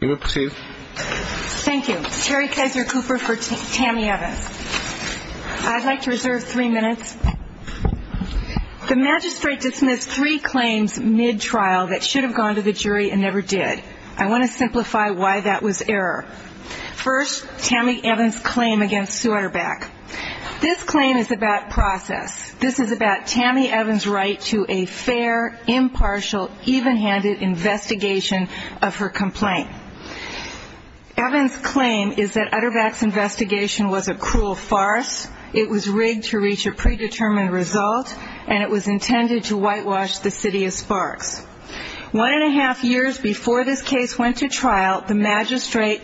Terry Kizer Cooper for Tammy Evans I'd like to reserve three minutes. The magistrate dismissed three claims mid-trial that should have gone to the jury and never did. I want to simplify why that was error. First, Tammy Evans' claim against Sue Auerbach. This claim is about process. This is about Tammy Evans' right to a fair, impartial, even-handed investigation. Evans' claim is that Auerbach's investigation was a cruel farce. It was rigged to reach a predetermined result. And it was intended to whitewash the City of Sparks. One and a half years before this case went to trial, the magistrate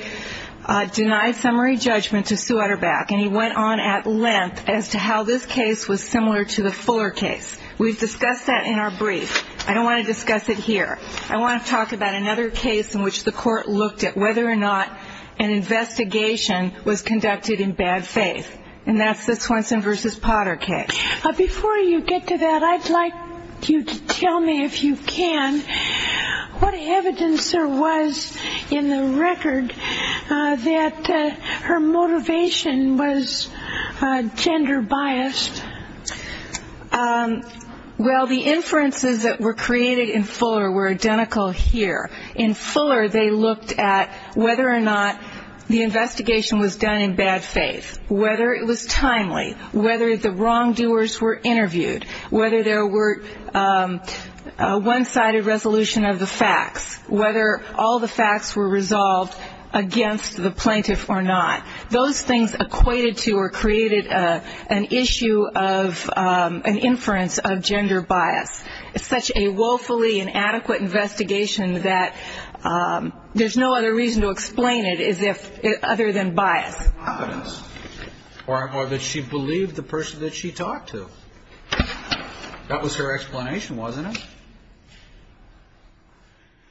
denied summary judgment to Sue Auerbach. And he went on at length as to how this case was similar to the Fuller case. We've discussed that in our brief. I don't want to discuss it here. I want to talk about another case in which the court looked at whether or not an investigation was conducted in bad faith. And that's the Swenson v. Potter case. Before you get to that, I'd like you to tell me, if you can, what evidence there was in the record that her motivation was gender-biased. Well, the inferences that were created in Fuller were identical here. In Fuller, they looked at whether or not the investigation was done in bad faith, whether it was timely, whether the wrongdoers were interviewed, whether there were one-sided resolution of the facts, whether all the facts were resolved against the plaintiff or not. Those things equated to or created an issue of an inference of gender bias. It's such a woefully inadequate investigation that there's no other reason to explain it other than bias. Or that she believed the person that she talked to. That was her explanation, wasn't it?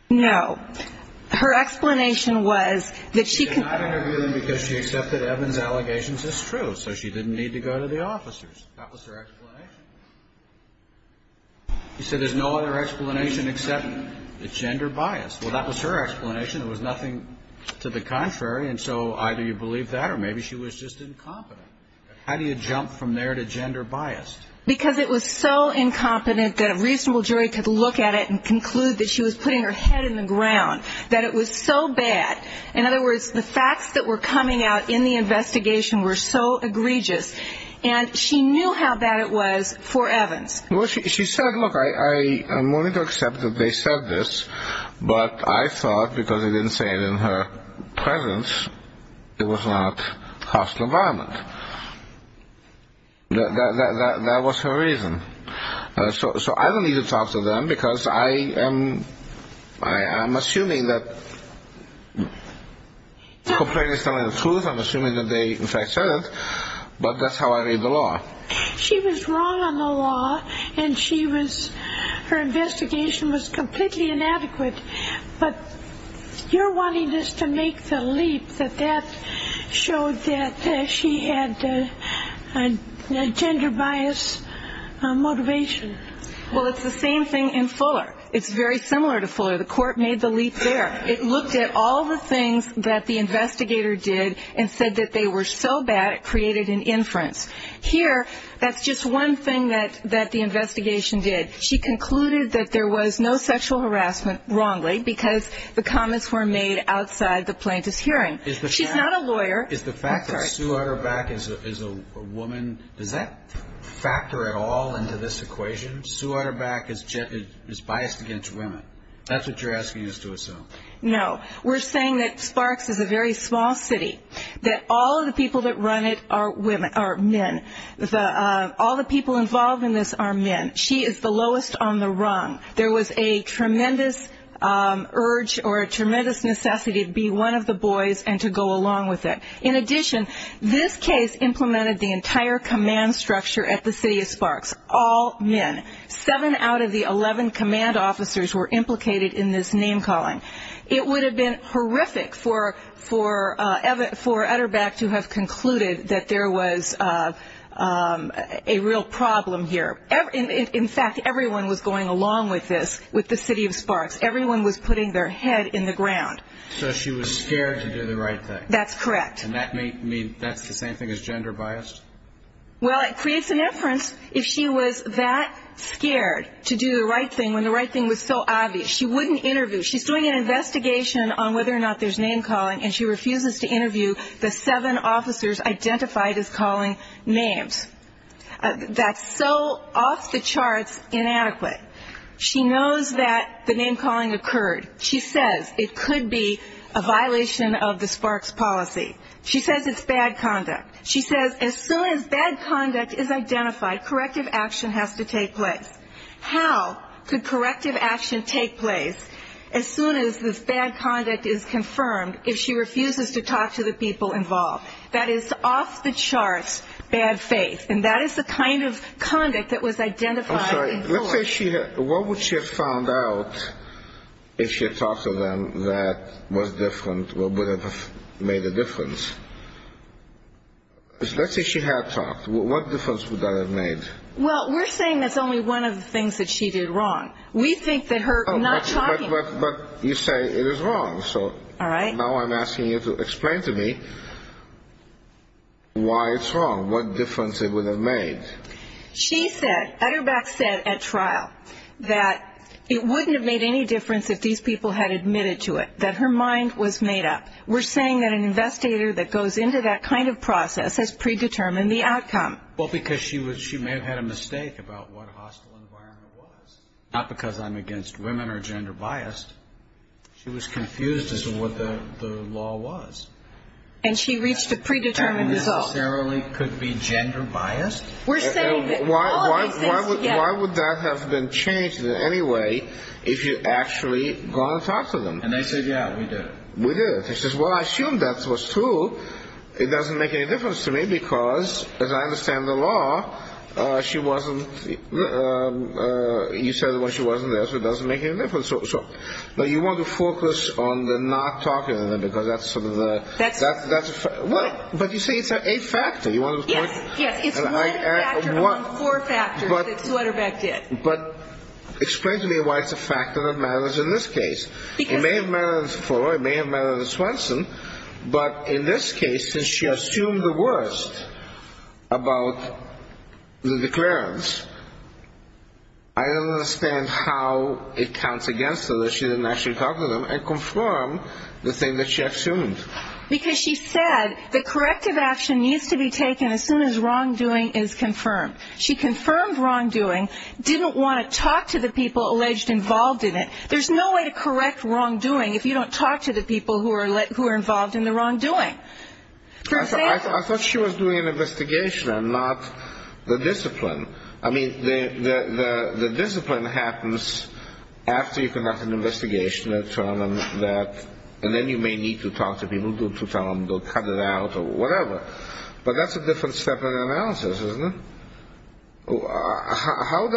No. Her explanation was that she could not interview them because she accepted Evans' allegations as true, so she didn't need to go to the officers. That was her explanation. She said there's no other explanation except that it's gender-biased. Well, that was her explanation. It was nothing to the contrary. And so either you believe that or maybe she was just incompetent. How do you jump from there to gender-biased? Because it was so incompetent that a reasonable jury could look at it and conclude that she was putting her head in the ground, that it was so bad. In other words, the facts that were coming out in the investigation were so egregious. And she knew how bad it was for Evans. Well, she said, look, I'm willing to accept that they said this, but I thought, because they didn't say it in her presence, it was not hostile environment. That was her reason. So I don't need to talk to them because I am assuming that, compared to telling the truth, I'm assuming that they, in fact, said it. But that's how I read the law. She was wrong on the law, and her investigation was completely inadequate. But you're wanting us to make the leap that that showed that she had a gender-biased motivation. Well, it's the same thing in Fuller. It's very similar to Fuller. The court made the leap there. It looked at all the things that the investigator did and said that they were so bad it created an inference. Here, that's just one thing that the investigation did. She concluded that there was no sexual harassment, wrongly, because the comments were made outside the plaintiff's hearing. She's not a lawyer. Is the fact that Sue Utterback is a woman, does that factor at all into this equation? Sue Utterback is biased against women. That's what you're asking us to assume. No. We're saying that Sparks is a very small city, that all of the people that run it are men. All the people involved in this are men. She is the lowest on the rung. There was a tremendous urge or a tremendous necessity to be one of the boys and to go along with it. In addition, this case implemented the entire command structure at the city of Sparks, all men. Seven out of the 11 command officers were implicated in this name-calling. It would have been horrific for Utterback to have concluded that there was a real problem here. In fact, everyone was going along with this, with the city of Sparks. Everyone was putting their head in the ground. So she was scared to do the right thing. That's correct. And that's the same thing as gender-biased? Well, it creates an inference. If she was that scared to do the right thing when the right thing was so obvious, she wouldn't interview. She's doing an investigation on whether or not there's name-calling, and she refuses to interview the seven officers identified as calling names. That's so off-the-charts inadequate. She knows that the name-calling occurred. She says it could be a violation of the Sparks policy. She says it's bad conduct. She says as soon as bad conduct is identified, corrective action has to take place. How could corrective action take place as soon as this bad conduct is confirmed, if she refuses to talk to the people involved? That is off-the-charts bad faith, and that is the kind of conduct that was identified in court. I'm sorry. What would she have found out if she had talked to them that was different, or would have made a difference? Let's say she had talked. What difference would that have made? Well, we're saying that's only one of the things that she did wrong. We think that her not talking to them. But you say it is wrong. All right. Now I'm asking you to explain to me why it's wrong, what difference it would have made. She said, at her back said at trial, that it wouldn't have made any difference if these people had admitted to it, that her mind was made up. We're saying that an investigator that goes into that kind of process has predetermined the outcome. Well, because she may have had a mistake about what hostile environment was, not because I'm against women or gender-biased. She was confused as to what the law was. And she reached a predetermined result. That necessarily could be gender-biased. We're saying that all of these things. Why would that have been changed in any way if you had actually gone and talked to them? And they said, yeah, we did it. We did it. She says, well, I assume that was true. It doesn't make any difference to me because, as I understand the law, she wasn't you said when she wasn't there, so it doesn't make any difference. You want to focus on the not talking to them because that's sort of the But you say it's a factor. Yes, it's one factor among four factors that Sutterbeck did. But explain to me why it's a factor that matters in this case. It may have mattered in Swenson. But in this case, since she assumed the worst about the declarants, I understand how it counts against her that she didn't actually talk to them and confirm the thing that she assumed. Because she said the corrective action needs to be taken as soon as wrongdoing is confirmed. She confirmed wrongdoing, didn't want to talk to the people alleged involved in it. There's no way to correct wrongdoing if you don't talk to the people who are involved in the wrongdoing. I thought she was doing an investigation and not the discipline. I mean, the discipline happens after you conduct an investigation and determine that and then you may need to talk to people to tell them to cut it out or whatever. But that's a different step in the analysis, isn't it? Not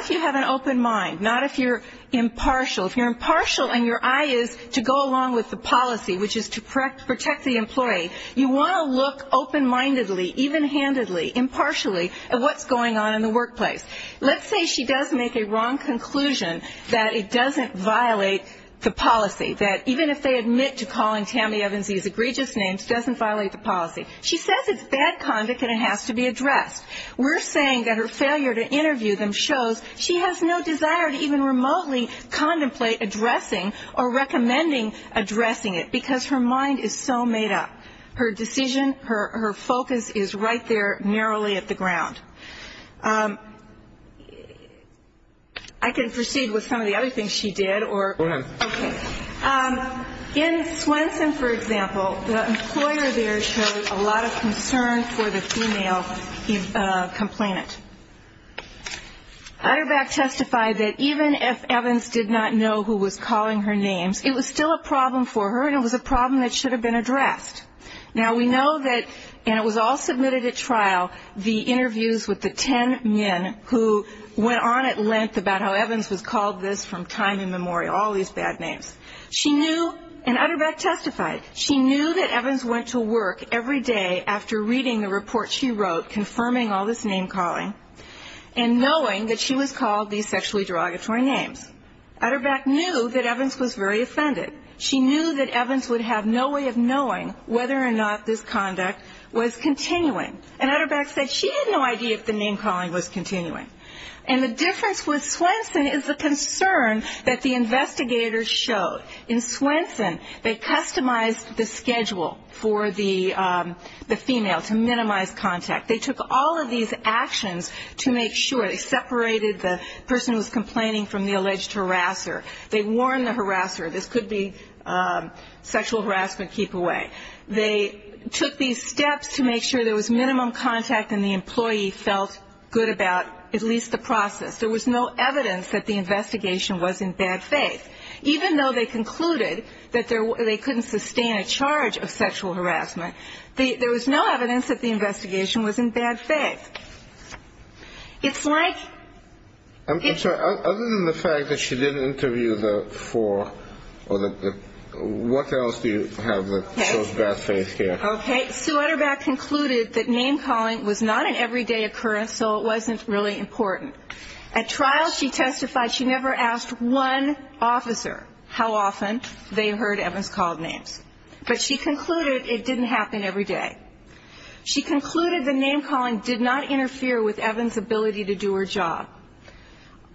if you have an open mind. Not if you're impartial. If you're impartial and your eye is to go along with the policy, which is to protect the employee, you want to look open-mindedly, even-handedly, impartially at what's going on in the workplace. Let's say she does make a wrong conclusion that it doesn't violate the policy, that even if they admit to calling Tammy Evans these egregious names, it doesn't violate the policy. She says it's bad conduct and it has to be addressed. We're saying that her failure to interview them shows she has no desire to even remotely contemplate addressing or recommending addressing it because her mind is so made up. Her decision, her focus is right there narrowly at the ground. I can proceed with some of the other things she did. Go ahead. Okay. In Swenson, for example, the employer there showed a lot of concern for the female complainant. Utterback testified that even if Evans did not know who was calling her names, it was still a problem for her and it was a problem that should have been addressed. Now, we know that, and it was all submitted at trial, the interviews with the ten men who went on at length about how Evans was called this from time immemorial, all these bad names. She knew, and Utterback testified, she knew that Evans went to work every day after reading the report she wrote confirming all this name calling and knowing that she was called these sexually derogatory names. Utterback knew that Evans was very offended. She knew that Evans would have no way of knowing whether or not this conduct was continuing. And Utterback said she had no idea if the name calling was continuing. And the difference with Swenson is the concern that the investigators showed. In Swenson, they customized the schedule for the female to minimize contact. They took all of these actions to make sure. They separated the person who was complaining from the alleged harasser. They warned the harasser this could be sexual harassment keep away. They took these steps to make sure there was minimum contact and the employee felt good about at least the process. There was no evidence that the investigation was in bad faith. Even though they concluded that they couldn't sustain a charge of sexual harassment, there was no evidence that the investigation was in bad faith. It's like it's Sir, other than the fact that she didn't interview the four, what else do you have that shows bad faith here? Okay, Sue Utterback concluded that name calling was not an everyday occurrence, so it wasn't really important. At trial, she testified she never asked one officer how often they heard Evans called names. But she concluded it didn't happen every day. She concluded the name calling did not interfere with Evans' ability to do her job.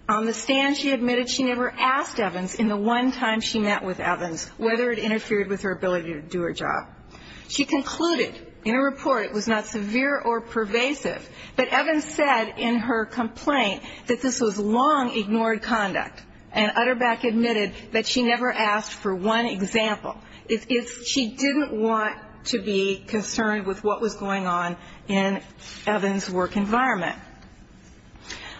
On the stand, she admitted she never asked Evans in the one time she met with Evans whether it interfered with her ability to do her job. She concluded in her report it was not severe or pervasive, but Evans said in her complaint that this was long-ignored conduct, and Utterback admitted that she never asked for one example. She didn't want to be concerned with what was going on in Evans' work environment.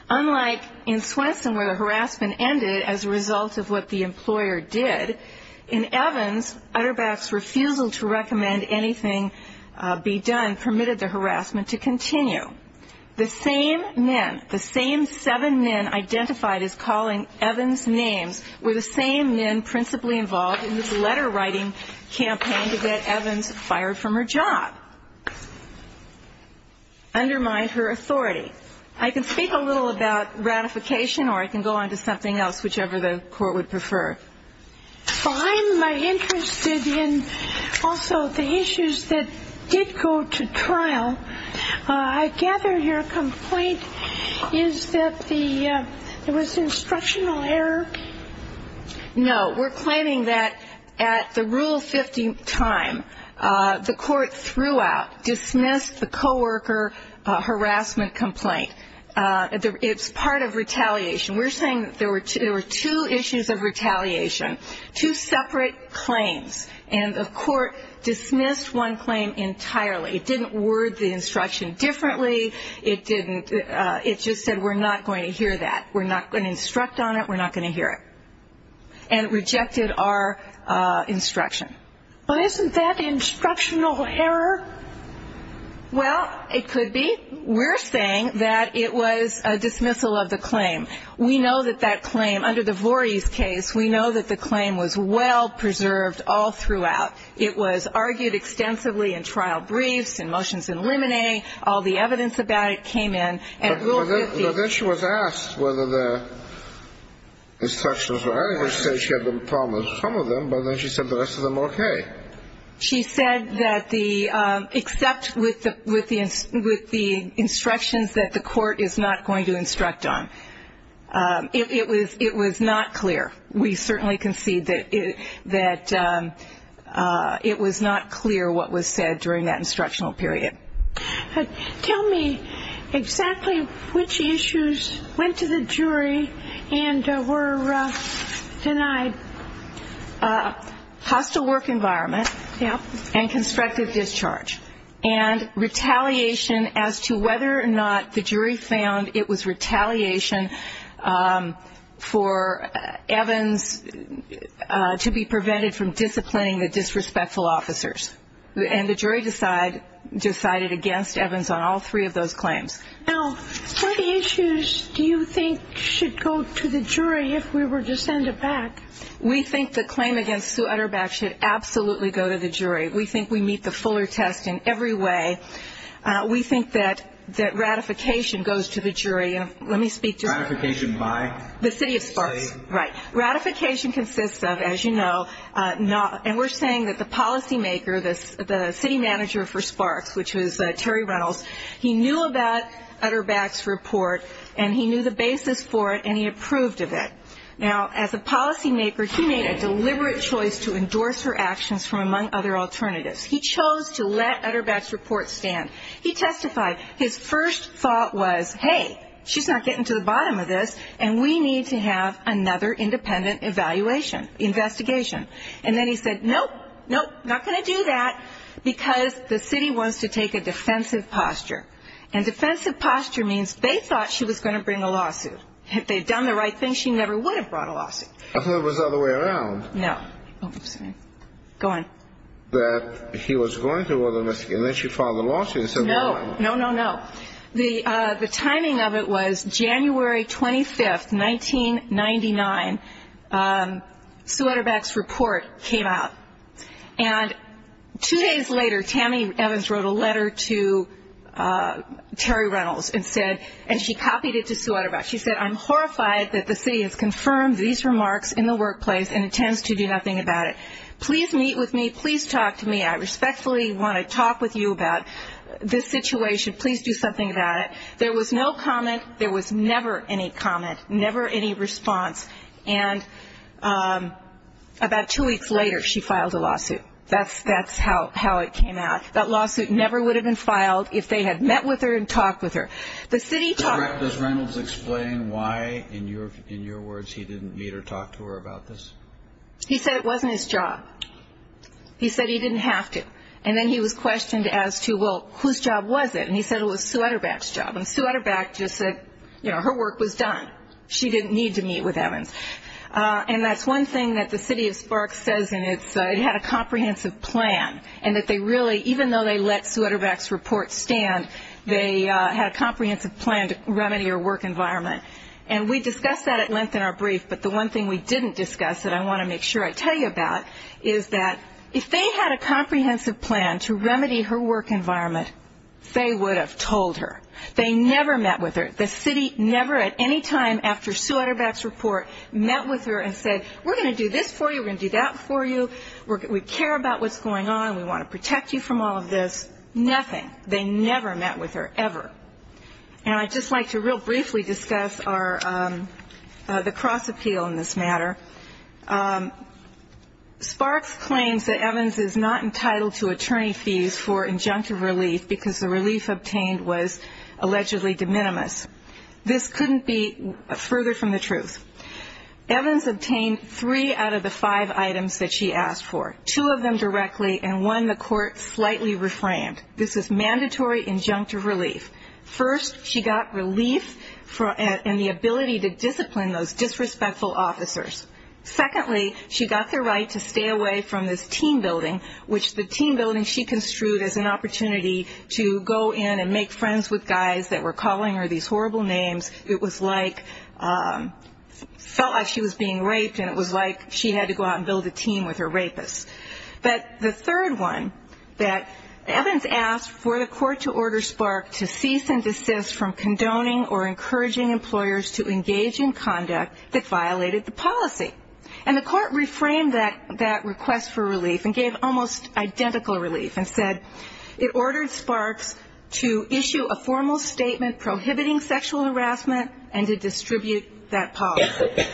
Unlike in Swenson where the harassment ended as a result of what the employer did, in Evans, Utterback's refusal to recommend anything be done permitted the harassment to continue. The same men, the same seven men identified as calling Evans names were the same men principally involved in this letter writing campaign to get Evans fired from her job, undermine her authority. I can speak a little about ratification or I can go on to something else, whichever the court would prefer. Well, I'm interested in also the issues that did go to trial. I gather your complaint is that there was instructional error? No, we're claiming that at the Rule 50 time, the court throughout dismissed the co-worker harassment complaint. It's part of retaliation. We're saying that there were two issues of retaliation, two separate claims, and the court dismissed one claim entirely. It didn't word the instruction differently. It just said we're not going to hear that. We're not going to instruct on it. We're not going to hear it, and rejected our instruction. Well, isn't that instructional error? Well, it could be. We're saying that it was a dismissal of the claim. We know that that claim, under the Voorhees case, we know that the claim was well preserved all throughout. It was argued extensively in trial briefs and motions in limine. All the evidence about it came in at Rule 50. But then she was asked whether the instructions were adequate. She said she had a problem with some of them, but then she said the rest of them were okay. She said that the except with the instructions that the court is not going to instruct on. It was not clear. We certainly concede that it was not clear what was said during that instructional period. Tell me exactly which issues went to the jury and were denied. Hostile work environment and constructive discharge. And retaliation as to whether or not the jury found it was retaliation for Evans to be prevented from disciplining the disrespectful officers. And the jury decided against Evans on all three of those claims. Now, what issues do you think should go to the jury if we were to send it back? We think the claim against Sue Utterback should absolutely go to the jury. We think we meet the Fuller test in every way. We think that ratification goes to the jury. Ratification by? The city of Sparks. Right. Ratification consists of, as you know, and we're saying that the policymaker, the city manager for Sparks, which was Terry Reynolds, he knew about Utterback's report and he knew the basis for it and he approved of it. Now, as a policymaker, he made a deliberate choice to endorse her actions from among other alternatives. He chose to let Utterback's report stand. He testified his first thought was, hey, she's not getting to the bottom of this and we need to have another independent evaluation, investigation. And then he said, nope, nope, not going to do that because the city wants to take a defensive posture. And defensive posture means they thought she was going to bring a lawsuit. Had they done the right thing, she never would have brought a lawsuit. I thought it was the other way around. No. Oops. Go on. That he was going to order a misdemeanor and she filed a lawsuit. No, no, no, no. The timing of it was January 25th, 1999. Sue Utterback's report came out. And two days later, Tammy Evans wrote a letter to Terry Reynolds and said, and she copied it to Sue Utterback. She said, I'm horrified that the city has confirmed these remarks in the workplace and intends to do nothing about it. Please meet with me. Please talk to me. I respectfully want to talk with you about this situation. Please do something about it. There was no comment. There was never any comment, never any response. And about two weeks later, she filed a lawsuit. That's how it came out. That lawsuit never would have been filed if they had met with her and talked with her. Does Reynolds explain why, in your words, he didn't meet or talk to her about this? He said it wasn't his job. He said he didn't have to. And then he was questioned as to, well, whose job was it? And he said it was Sue Utterback's job. And Sue Utterback just said, you know, her work was done. She didn't need to meet with Evans. And that's one thing that the city of Sparks says, and it had a comprehensive plan, and that they really, even though they let Sue Utterback's report stand, they had a comprehensive plan to remedy her work environment. And we discussed that at length in our brief, but the one thing we didn't discuss that I want to make sure I tell you about is that if they had a comprehensive plan to remedy her work environment, they would have told her. They never met with her. The city never at any time after Sue Utterback's report met with her and said, we're going to do this for you, we're going to do that for you, we care about what's going on, we want to protect you from all of this. Nothing. They never met with her, ever. And I'd just like to real briefly discuss the cross-appeal in this matter. Sparks claims that Evans is not entitled to attorney fees for injunctive relief because the relief obtained was allegedly de minimis. This couldn't be further from the truth. Evans obtained three out of the five items that she asked for, two of them directly, and one the court slightly reframed. This is mandatory injunctive relief. First, she got relief and the ability to discipline those disrespectful officers. Secondly, she got the right to stay away from this teen building, which the teen building she construed as an opportunity to go in and make friends with guys that were calling her these horrible names. It was like, felt like she was being raped and it was like she had to go out and build a team with her rapists. But the third one, that Evans asked for the court to order Spark to cease and desist from condoning or encouraging employers to engage in conduct that violated the policy. And the court reframed that request for relief and gave almost identical relief and said, it ordered Sparks to issue a formal statement prohibiting sexual harassment and to distribute that policy.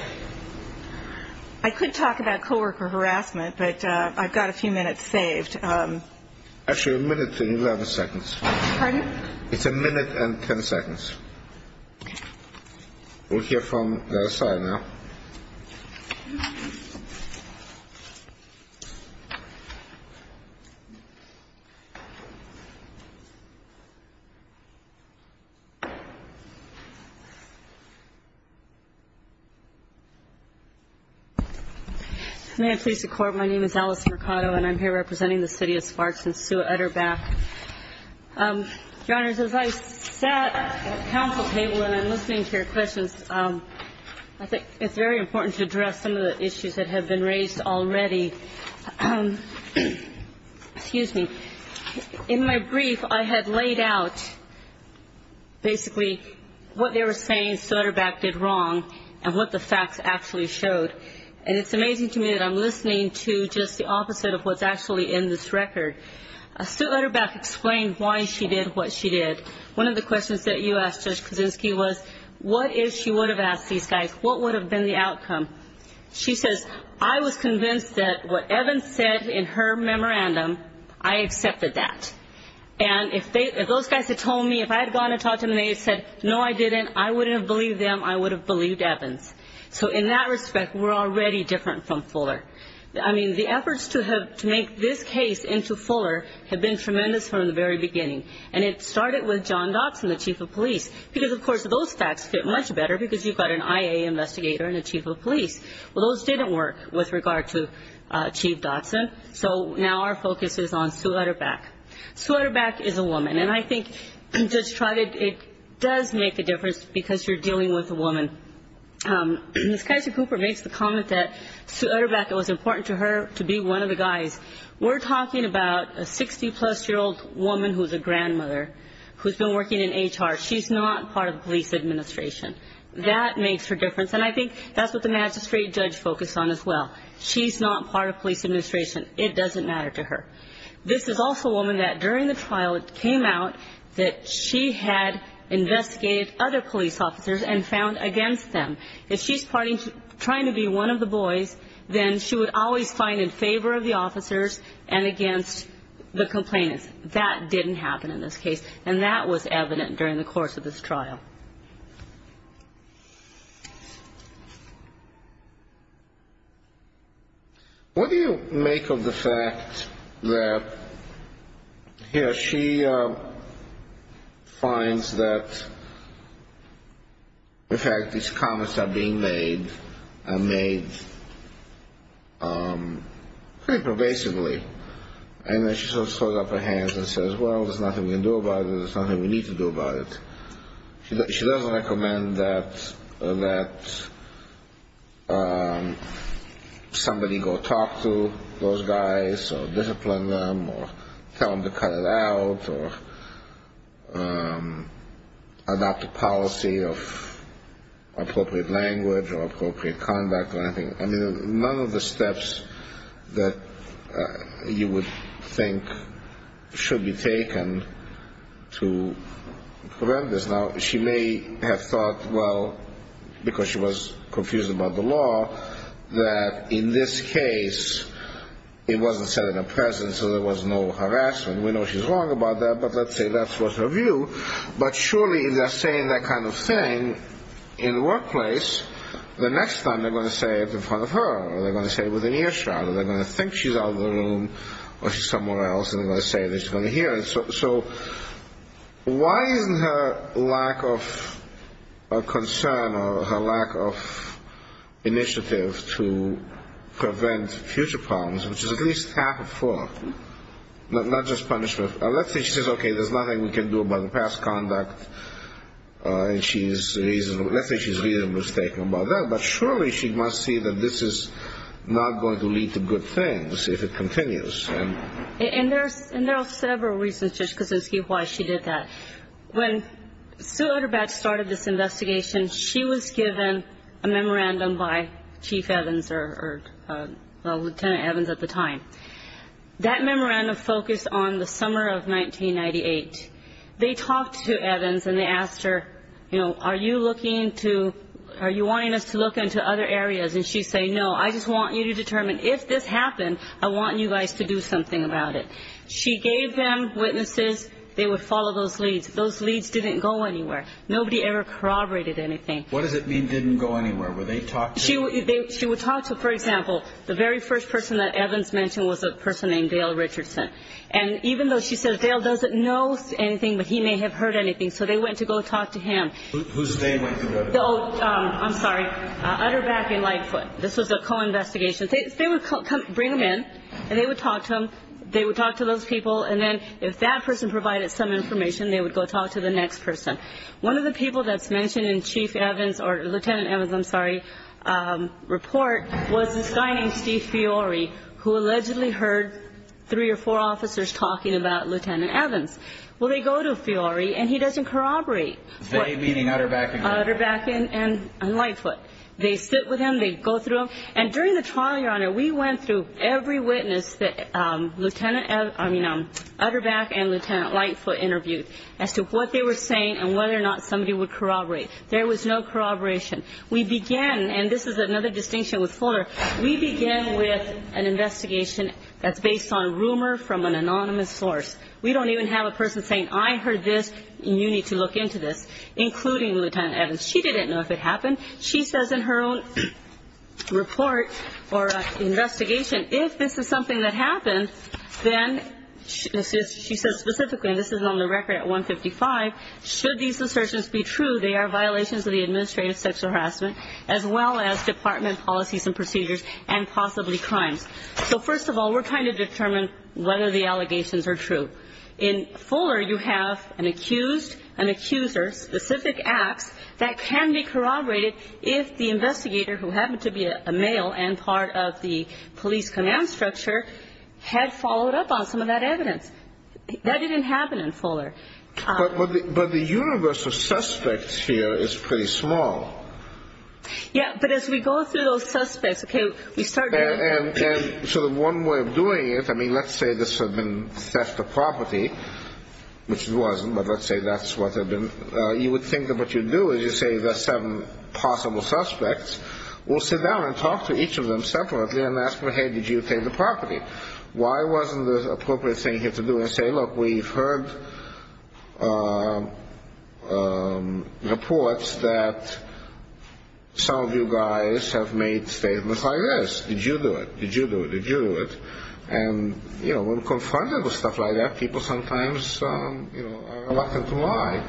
I could talk about co-worker harassment, but I've got a few minutes saved. Actually, a minute and 11 seconds. Pardon? It's a minute and 10 seconds. We'll hear from the other side now. May I please record my name is Alice Mercado and I'm here representing the city of Sparks in Sioux-Utter Bath. Your Honors, as I sat at the council table and I'm listening to your questions, I think it's very important to address some of the issues that have been raised already. Excuse me. In my brief, I had laid out basically what they were saying Sioux-Utter Bath did wrong and what the facts actually showed. And it's amazing to me that I'm listening to just the opposite of what's actually in this record. Sioux-Utter Bath explained why she did what she did. One of the questions that you asked, Judge Kuczynski, was what if she would have asked these guys, what would have been the outcome? She says, I was convinced that what Evans said in her memorandum, I accepted that. And if those guys had told me, if I had gone and talked to them and they had said, no, I didn't, I wouldn't have believed them, I would have believed Evans. So in that respect, we're already different from Fuller. I mean, the efforts to make this case into Fuller have been tremendous from the very beginning. And it started with John Dotson, the chief of police, because, of course, those facts fit much better because you've got an IA investigator and a chief of police. Well, those didn't work with regard to Chief Dotson. So now our focus is on Sioux-Utter Bath. Sioux-Utter Bath is a woman, and I think, Judge Trotted, it does make a difference because you're dealing with a woman. Ms. Kaiser-Cooper makes the comment that Sioux-Utter Bath, it was important to her to be one of the guys. We're talking about a 60-plus-year-old woman who's a grandmother who's been working in HR. She's not part of the police administration. That makes her difference, and I think that's what the magistrate judge focused on as well. She's not part of police administration. It doesn't matter to her. This is also a woman that during the trial, it came out that she had investigated other police officers and found against them. If she's trying to be one of the boys, then she would always find in favor of the officers and against the complainants. That didn't happen in this case, and that was evident during the course of this trial. What do you make of the fact that here she finds that, in fact, these comments are being made, are made pretty pervasively, and then she sort of throws up her hands and says, well, there's nothing we can do about it. There's nothing we need to do about it. She doesn't recommend that somebody go talk to those guys or discipline them or tell them to cut it out or adopt a policy of appropriate language or appropriate conduct or anything. I mean, none of the steps that you would think should be taken to prevent this. Now, she may have thought, well, because she was confused about the law, that in this case, it wasn't said in her presence, so there was no harassment. We know she's wrong about that, but let's say that was her view. But surely if they're saying that kind of thing in the workplace, the next time they're going to say it in front of her or they're going to say it within earshot or they're going to think she's out of the room or she's somewhere else and they're going to say it, they're just going to hear it. So why isn't her lack of concern or her lack of initiative to prevent future problems, which is at least half of four, not just punishment, let's say she says, okay, there's nothing we can do about the past conduct and let's say she's reasonably mistaken about that, but surely she must see that this is not going to lead to good things if it continues. And there are several reasons, Judge Kosinski, why she did that. When Sue Utterbatch started this investigation, she was given a memorandum by Chief Evans or Lieutenant Evans at the time that memorandum focused on the summer of 1998. They talked to Evans and they asked her, you know, are you looking to, are you wanting us to look into other areas? And she said, no, I just want you to determine if this happened, I want you guys to do something about it. She gave them witnesses. They would follow those leads. Those leads didn't go anywhere. Nobody ever corroborated anything. What does it mean didn't go anywhere? She would talk to, for example, the very first person that Evans mentioned was a person named Dale Richardson. And even though she said Dale doesn't know anything, but he may have heard anything, so they went to go talk to him. Whose name went to go to him? Oh, I'm sorry, Utterbatch and Lightfoot. This was a co-investigation. They would bring them in and they would talk to them, they would talk to those people, and then if that person provided some information, they would go talk to the next person. One of the people that's mentioned in Chief Evans, or Lieutenant Evans, I'm sorry, report, was this guy named Steve Fiore who allegedly heard three or four officers talking about Lieutenant Evans. Well, they go to Fiore and he doesn't corroborate. They, meaning Utterbatch and Lightfoot. Utterbatch and Lightfoot. They sit with him, they go through him, and during the trial, Your Honor, we went through every witness that Lieutenant, I mean, Utterbatch and Lieutenant Lightfoot interviewed as to what they were saying and whether or not somebody would corroborate. There was no corroboration. We began, and this is another distinction with Fuller, we began with an investigation that's based on rumor from an anonymous source. We don't even have a person saying, I heard this and you need to look into this, including Lieutenant Evans. She didn't know if it happened. She says in her own report or investigation, if this is something that happened, then she says specifically, and this is on the record at 155, should these assertions be true, they are violations of the administrative section of harassment, as well as department policies and procedures and possibly crimes. So first of all, we're trying to determine whether the allegations are true. In Fuller, you have an accused, an accuser, specific acts that can be corroborated if the investigator, who happened to be a male and part of the police command structure, had followed up on some of that evidence. That didn't happen in Fuller. But the universe of suspects here is pretty small. Yeah, but as we go through those suspects, okay, we start there. And so the one way of doing it, I mean, let's say this had been theft of property, which it wasn't, but let's say that's what had been, you would think of what you'd do is you'd say there's seven possible suspects. We'll sit down and talk to each of them separately and ask them, hey, did you take the property? Why wasn't the appropriate thing here to do and say, look, we've heard reports that some of you guys have made statements like this. Did you do it? Did you do it? Did you do it? And, you know, when confronted with stuff like that, people sometimes are reluctant to lie,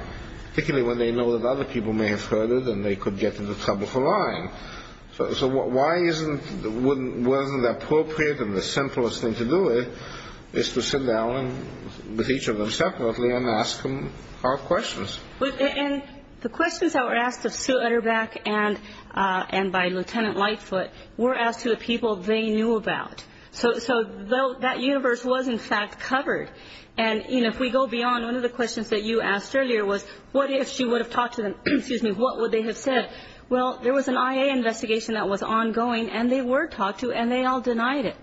particularly when they know that other people may have heard it and they could get into trouble for lying. So why isn't the appropriate and the simplest thing to do is to sit down with each of them separately and ask them hard questions. And the questions that were asked of Sue Utterback and by Lieutenant Lightfoot were asked to the people they knew about. So that universe was, in fact, covered. And, you know, if we go beyond, one of the questions that you asked earlier was, what if she would have talked to them? Excuse me, what would they have said? Well, there was an IA investigation that was ongoing, and they were talked to, and they all denied it.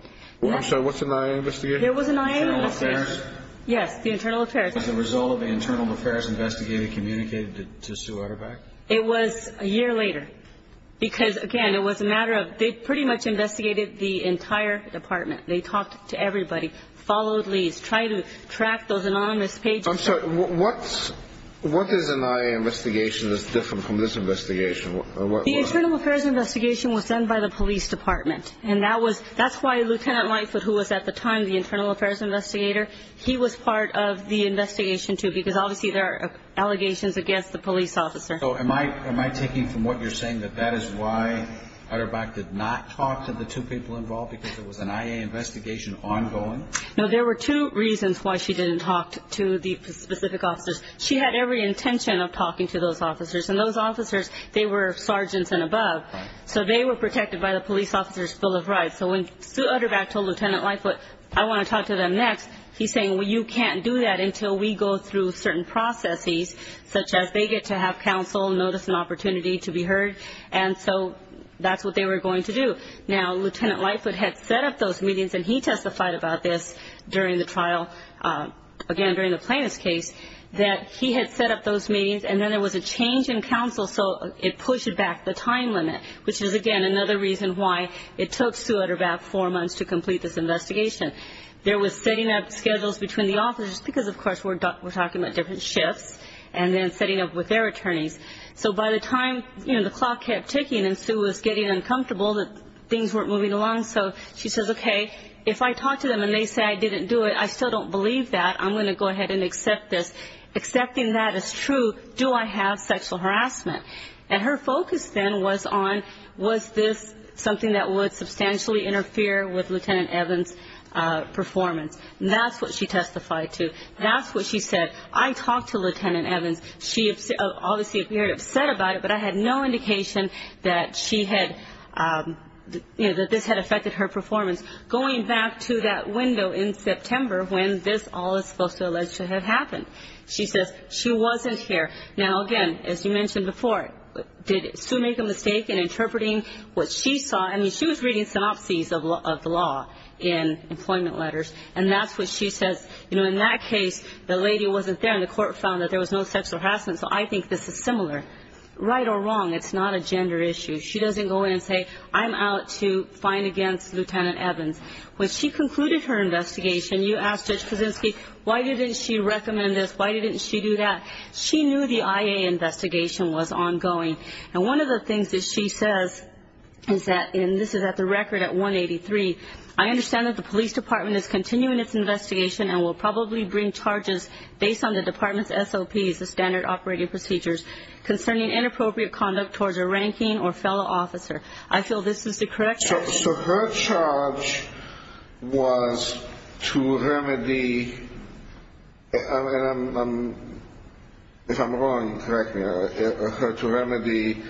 I'm sorry, what's an IA investigation? There was an IA investigation. Internal Affairs? Yes, the Internal Affairs. Was the result of an Internal Affairs investigator communicated to Sue Utterback? It was a year later because, again, it was a matter of they pretty much investigated the entire department. They talked to everybody, followed leads, tried to track those anonymous pages. I'm sorry, what is an IA investigation that's different from this investigation? The Internal Affairs investigation was done by the police department, and that's why Lieutenant Lightfoot, who was at the time the Internal Affairs investigator, he was part of the investigation too because, obviously, there are allegations against the police officer. So am I taking from what you're saying that that is why Utterback did not talk to the two people involved because it was an IA investigation ongoing? No, there were two reasons why she didn't talk to the specific officers. She had every intention of talking to those officers, and those officers, they were sergeants and above, so they were protected by the police officer's Bill of Rights. So when Sue Utterback told Lieutenant Lightfoot, I want to talk to them next, he's saying, well, you can't do that until we go through certain processes, such as they get to have counsel, notice an opportunity to be heard, and so that's what they were going to do. Now, Lieutenant Lightfoot had set up those meetings, and he testified about this during the trial, again, during the plaintiff's case, that he had set up those meetings, and then there was a change in counsel, so it pushed back the time limit, which is, again, another reason why it took Sue Utterback four months to complete this investigation. There was setting up schedules between the officers, because, of course, we're talking about different shifts, and then setting up with their attorneys. So by the time, you know, the clock kept ticking and Sue was getting uncomfortable that things weren't moving along, so she says, okay, if I talk to them and they say I didn't do it, I still don't believe that. I'm going to go ahead and accept this. Accepting that is true. Do I have sexual harassment? And her focus then was on was this something that would substantially interfere with Lieutenant Evans' performance, and that's what she testified to. That's what she said. I talked to Lieutenant Evans. She obviously appeared upset about it, but I had no indication that she had, you know, that this had affected her performance, going back to that window in September when this all is supposed to have allegedly happened. She says she wasn't here. Now, again, as you mentioned before, did Sue make a mistake in interpreting what she saw? I mean, she was reading synopses of the law in employment letters, and that's what she says. You know, in that case, the lady wasn't there, and the court found that there was no sexual harassment, so I think this is similar. Right or wrong, it's not a gender issue. She doesn't go in and say, I'm out to find against Lieutenant Evans. When she concluded her investigation, you asked Judge Kaczynski, why didn't she recommend this? Why didn't she do that? She knew the IA investigation was ongoing. And one of the things that she says is that, and this is at the record at 183, I understand that the police department is continuing its investigation and will probably bring charges based on the department's SOPs, the standard operating procedures, concerning inappropriate conduct towards a ranking or fellow officer. I feel this is the correct definition. So her charge was to remedy, if I'm wrong, correct me, her to remedy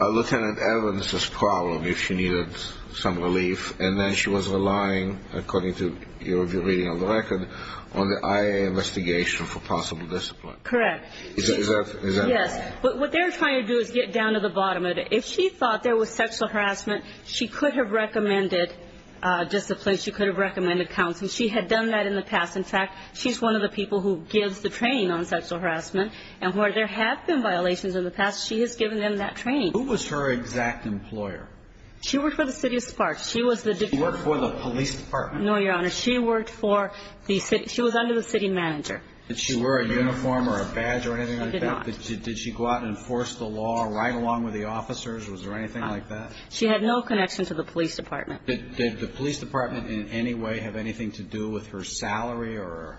Lieutenant Evans' problem if she needed some relief, and then she was relying, according to your reading of the record, on the IA investigation for possible discipline. Correct. Is that right? Yes, but what they're trying to do is get down to the bottom of it. If she thought there was sexual harassment, she could have recommended discipline. She could have recommended counseling. She had done that in the past. In fact, she's one of the people who gives the training on sexual harassment, and where there have been violations in the past, she has given them that training. Who was her exact employer? She worked for the city of Sparks. She worked for the police department. No, Your Honor. She worked for the city. She was under the city manager. Did she wear a uniform or a badge or anything like that? She did not. Did she go out and enforce the law right along with the officers? Was there anything like that? She had no connection to the police department. Did the police department in any way have anything to do with her salary or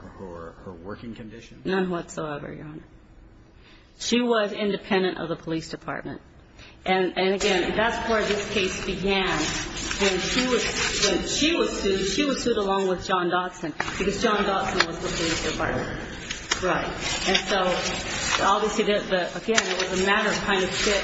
her working conditions? None whatsoever, Your Honor. She was independent of the police department. And, again, that's where this case began, when she was sued. She was sued along with John Dodson because John Dodson was the police department. Right. And so, obviously, again, it was a matter of trying to fit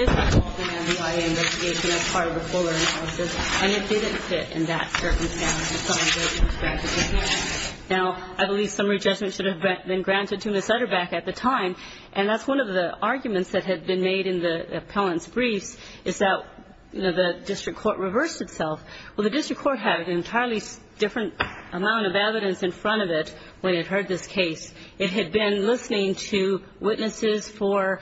his involvement in the investigation as part of a fuller analysis, and it didn't fit in that circumstance. Now, I believe summary judgment should have been granted to Ms. Sutterback at the time, and that's one of the arguments that had been made in the appellant's briefs, is that the district court reversed itself. Well, the district court had an entirely different amount of evidence in front of it when it heard this case. It had been listening to witnesses for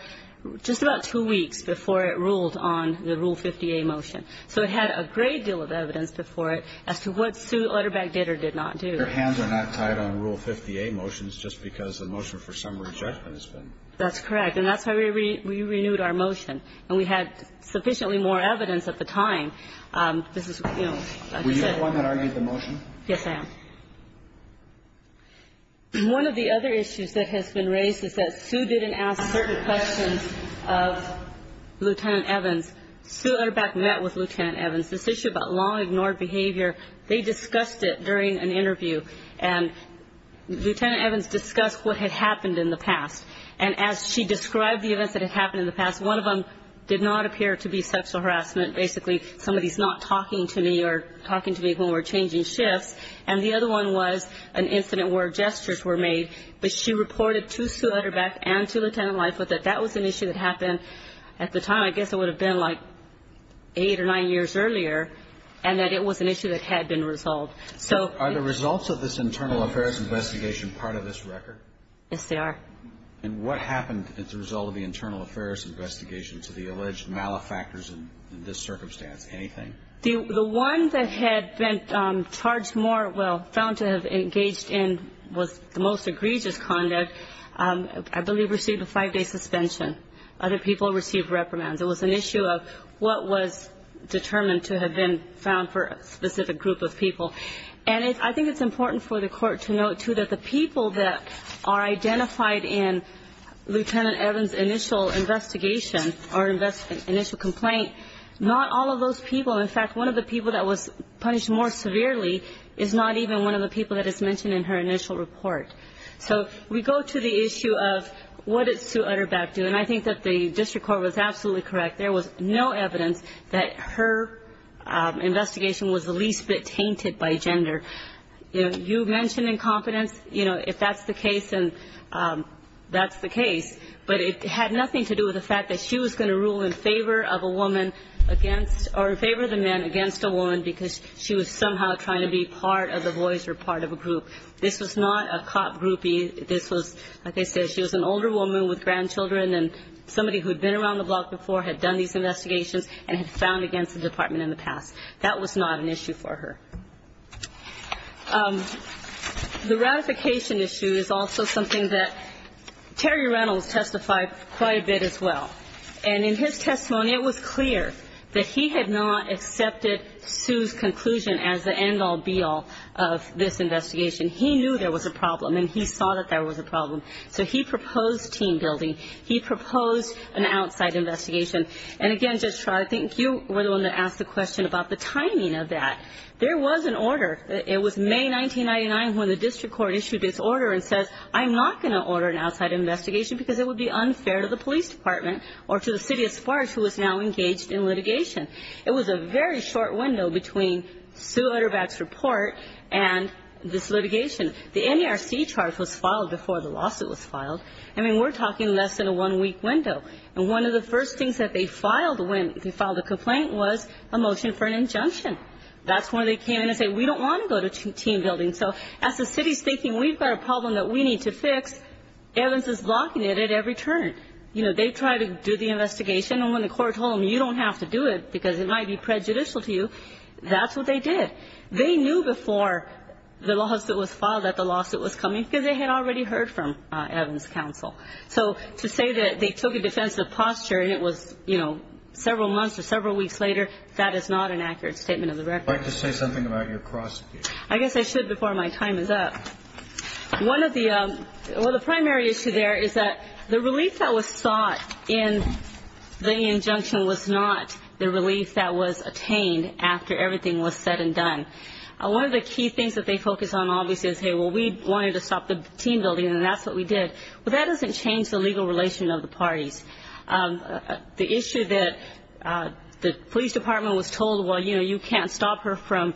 just about two weeks before it ruled on the Rule 50A motion. So it had a great deal of evidence before it as to what Sutterback did or did not do. Their hands are not tied on Rule 50A motions just because the motion for summary judgment has been. That's correct, and that's why we renewed our motion. And we had sufficiently more evidence at the time. This is, you know. Were you the one that argued the motion? Yes, I am. One of the other issues that has been raised is that Sue didn't ask certain questions of Lieutenant Evans. Sue Sutterback met with Lieutenant Evans. This issue about long-ignored behavior, they discussed it during an interview, and Lieutenant Evans discussed what had happened in the past, and as she described the events that had happened in the past, one of them did not appear to be sexual harassment, basically somebody's not talking to me or talking to me when we're changing shifts, and the other one was an incident where gestures were made. But she reported to Sutterback and to Lieutenant Leif that that was an issue that happened at the time. I guess it would have been like eight or nine years earlier, and that it was an issue that had been resolved. Are the results of this internal affairs investigation part of this record? Yes, they are. And what happened as a result of the internal affairs investigation to the alleged malefactors in this circumstance? Anything? The one that had been charged more, well, found to have engaged in the most egregious conduct, I believe received a five-day suspension. Other people received reprimands. It was an issue of what was determined to have been found for a specific group of people. And I think it's important for the court to note, too, that the people that are identified in Lieutenant Evans' initial investigation or initial complaint, not all of those people. In fact, one of the people that was punished more severely is not even one of the people that is mentioned in her initial report. So we go to the issue of what did Sue Utterback do, and I think that the district court was absolutely correct. There was no evidence that her investigation was the least bit tainted by gender. You mentioned incompetence. You know, if that's the case, then that's the case. But it had nothing to do with the fact that she was going to rule in favor of a woman against or in favor of the man against a woman because she was somehow trying to be part of the boys or part of a group. This was not a cop groupie. This was, like I said, she was an older woman with grandchildren, and somebody who had been around the block before had done these investigations and had found against the department in the past. That was not an issue for her. The ratification issue is also something that Terry Reynolds testified quite a bit as well. And in his testimony, it was clear that he had not accepted Sue's conclusion as the end-all, be-all of this investigation. He knew there was a problem, and he saw that there was a problem. So he proposed team building. He proposed an outside investigation. And again, Judge Schrader, I think you were the one that asked the question about the timing of that. There was an order. It was May 1999 when the district court issued this order and said, I'm not going to order an outside investigation because it would be unfair to the police department or to the city as far as who is now engaged in litigation. It was a very short window between Sue Utterback's report and this litigation. The NARC charge was filed before the lawsuit was filed. I mean, we're talking less than a one-week window. And one of the first things that they filed when they filed the complaint was a motion for an injunction. That's when they came in and said, we don't want to go to team building. So as the city is thinking, we've got a problem that we need to fix, Evans is blocking it at every turn. You know, they tried to do the investigation, and when the court told them, you don't have to do it because it might be prejudicial to you, that's what they did. They knew before the lawsuit was filed that the lawsuit was coming because they had already heard from Evans' counsel. So to say that they took a defensive posture and it was, you know, several months or several weeks later, that is not an accurate statement of the record. I'd like to say something about your prosecution. I guess I should before my time is up. One of the – well, the primary issue there is that the relief that was sought in the injunction was not the relief that was attained after everything was said and done. One of the key things that they focus on, obviously, is, hey, well, we wanted to stop the team building, and that's what we did. Well, that doesn't change the legal relation of the parties. The issue that the police department was told, well, you know, you can't stop her from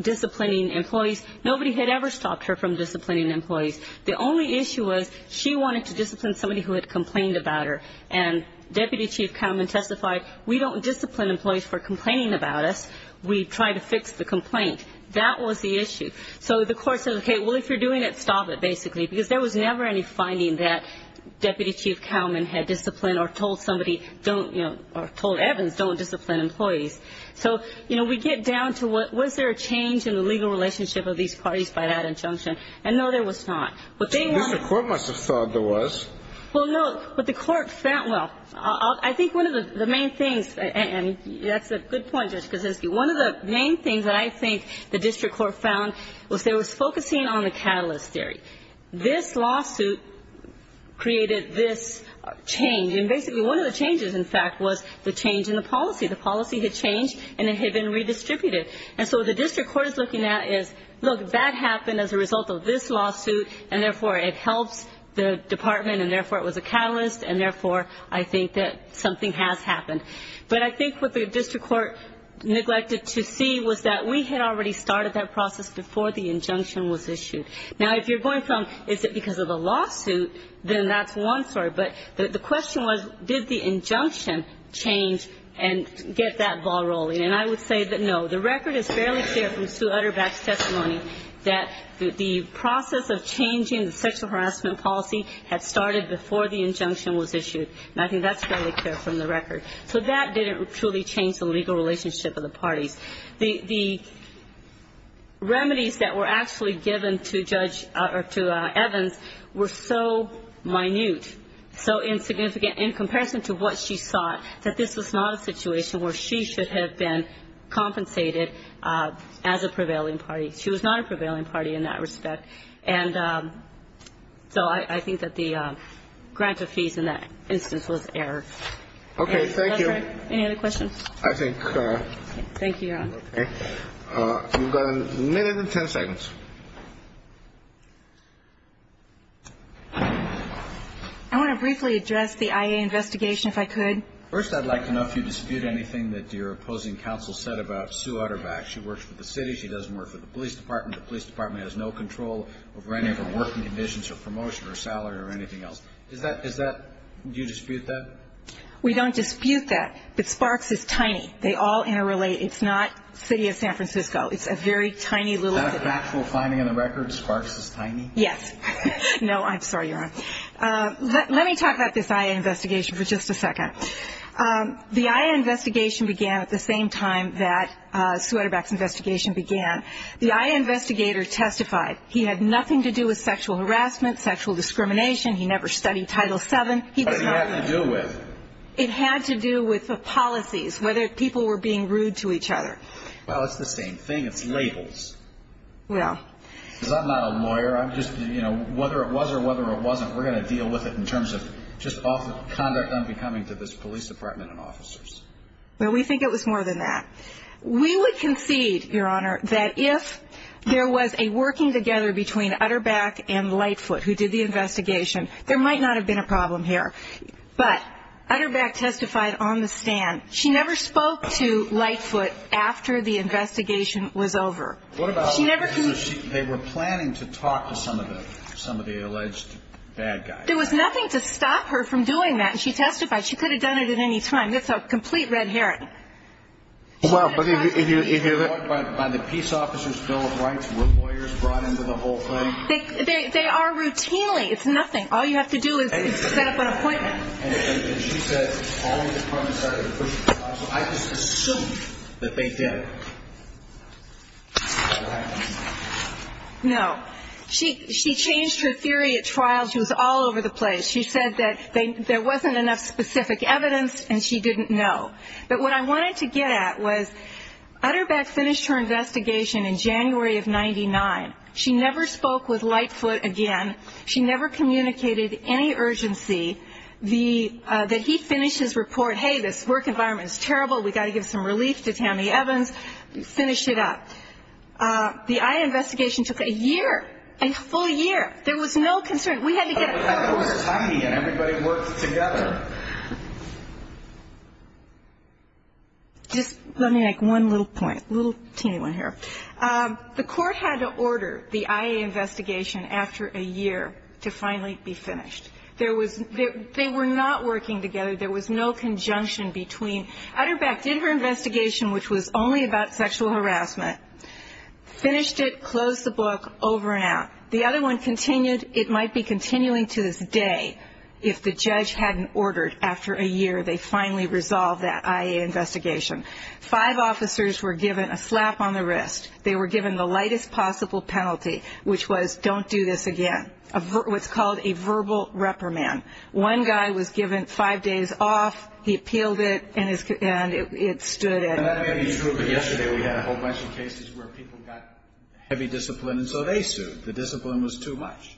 disciplining employees. Nobody had ever stopped her from disciplining employees. The only issue was she wanted to discipline somebody who had complained about her, and Deputy Chief Cowman testified, we don't discipline employees for complaining about us. We try to fix the complaint. That was the issue. So the court said, okay, well, if you're doing it, stop it, basically, because there was never any finding that Deputy Chief Cowman had disciplined or told somebody don't, you know, or told Evans don't discipline employees. So, you know, we get down to was there a change in the legal relationship of these parties by that injunction, and no, there was not. What they want to – So the district court must have thought there was. Well, no. What the court found – well, I think one of the main things – and that's a good point, Judge Kaczynski. One of the main things that I think the district court found was they were focusing on the catalyst theory. This lawsuit created this change, and basically one of the changes, in fact, was the change in the policy. The policy had changed, and it had been redistributed. And so what the district court is looking at is, look, that happened as a result of this lawsuit, and therefore it helps the department, and therefore it was a catalyst, and therefore I think that something has happened. But I think what the district court neglected to see was that we had already started that process before the injunction was issued. Now, if you're going from, is it because of the lawsuit, then that's one story. But the question was, did the injunction change and get that ball rolling? And I would say that, no. The record is fairly clear from Sue Utterback's testimony that the process of changing the sexual harassment policy had started before the injunction was issued, and I think that's fairly clear from the record. So that didn't truly change the legal relationship of the parties. The remedies that were actually given to Judge or to Evans were so minute, so insignificant in comparison to what she sought, that this was not a situation where she should have been compensated as a prevailing party. She was not a prevailing party in that respect. And so I think that the grant of fees in that instance was error. Okay. Thank you. Any other questions? I think. Thank you, Your Honor. Okay. We've got a minute and ten seconds. I want to briefly address the IA investigation, if I could. First, I'd like to know if you dispute anything that your opposing counsel said about Sue Utterback. She works for the city. She doesn't work for the police department. The police department has no control over any of her working conditions or promotion or salary or anything else. Is that, do you dispute that? We don't dispute that. But Sparks is tiny. They all interrelate. It's not the city of San Francisco. It's a very tiny little city. Is that an actual finding on the record, Sparks is tiny? Yes. No, I'm sorry, Your Honor. Let me talk about this IA investigation for just a second. The IA investigation began at the same time that Sue Utterback's investigation began. The IA investigator testified. He had nothing to do with sexual harassment, sexual discrimination. He never studied Title VII. What did he have to do with? It had to do with the policies, whether people were being rude to each other. Well, it's the same thing. It's labels. Well. Because I'm not a lawyer. I'm just, you know, whether it was or whether it wasn't, we're going to deal with it in terms of just conduct unbecoming to this police department and officers. Well, we think it was more than that. We would concede, Your Honor, that if there was a working together between Utterback and Lightfoot who did the investigation, there might not have been a problem here. But Utterback testified on the stand. She never spoke to Lightfoot after the investigation was over. What about if they were planning to talk to some of the alleged bad guys? There was nothing to stop her from doing that, and she testified. She could have done it at any time. That's a complete red herring. Well, but if you hear that. By the Peace Officers Bill of Rights, were lawyers brought into the whole thing? They are routinely. It's nothing. All you have to do is set up an appointment. And she says all the departments are going to push the trial. So I just assume that they did. No. She changed her theory at trial. She was all over the place. She said that there wasn't enough specific evidence, and she didn't know. But what I wanted to get at was Utterback finished her investigation in January of 99. She never spoke with Lightfoot again. She never communicated any urgency that he finish his report. Hey, this work environment is terrible. We've got to give some relief to Tammy Evans. Finish it up. The IA investigation took a year, a full year. There was no concern. We had to get it done. It was tiny, and everybody worked together. Just let me make one little point, a little teeny one here. The court had to order the IA investigation after a year to finally be finished. They were not working together. There was no conjunction between Utterback did her investigation, which was only about sexual harassment, finished it, closed the book, over and out. The other one continued. It might be continuing to this day if the judge hadn't ordered after a year they finally resolve that IA investigation. Five officers were given a slap on the wrist. They were given the lightest possible penalty, which was don't do this again, what's called a verbal reprimand. One guy was given five days off. He appealed it, and it stood it. And that may be true, but yesterday we had a whole bunch of cases where people got heavy discipline, and so they sued. The discipline was too much.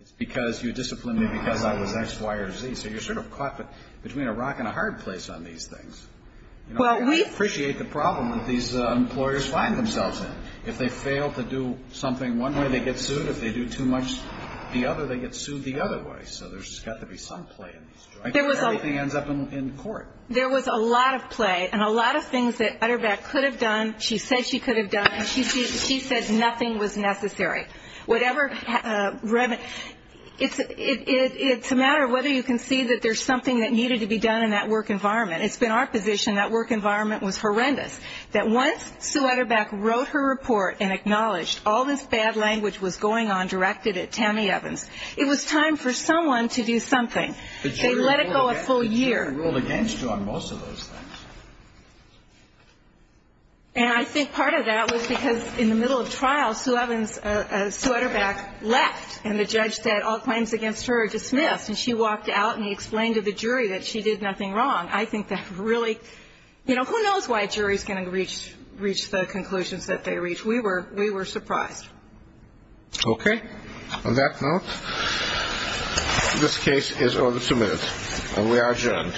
It's because you disciplined me because I was X, Y, or Z. So you're sort of caught between a rock and a hard place on these things. Well, we appreciate the problem that these employers find themselves in. If they fail to do something one way, they get sued. If they do too much the other, they get sued the other way. So there's got to be some play in these. I don't care if everything ends up in court. There was a lot of play and a lot of things that Utterback could have done. She said she could have done, and she said nothing was necessary. It's a matter of whether you can see that there's something that needed to be done in that work environment. It's been our position that work environment was horrendous, that once Sue Utterback wrote her report and acknowledged all this bad language was going on directed at Tammy Evans, it was time for someone to do something. They let it go a full year. But you ruled against her on most of those things. And I think part of that was because in the middle of trial, Sue Utterback left, and the judge said all claims against her are dismissed. And she walked out, and he explained to the jury that she did nothing wrong. I think that really, you know, who knows why a jury is going to reach the conclusions that they reach. We were surprised. Okay. On that note, this case is over two minutes, and we are adjourned. Okay, guys.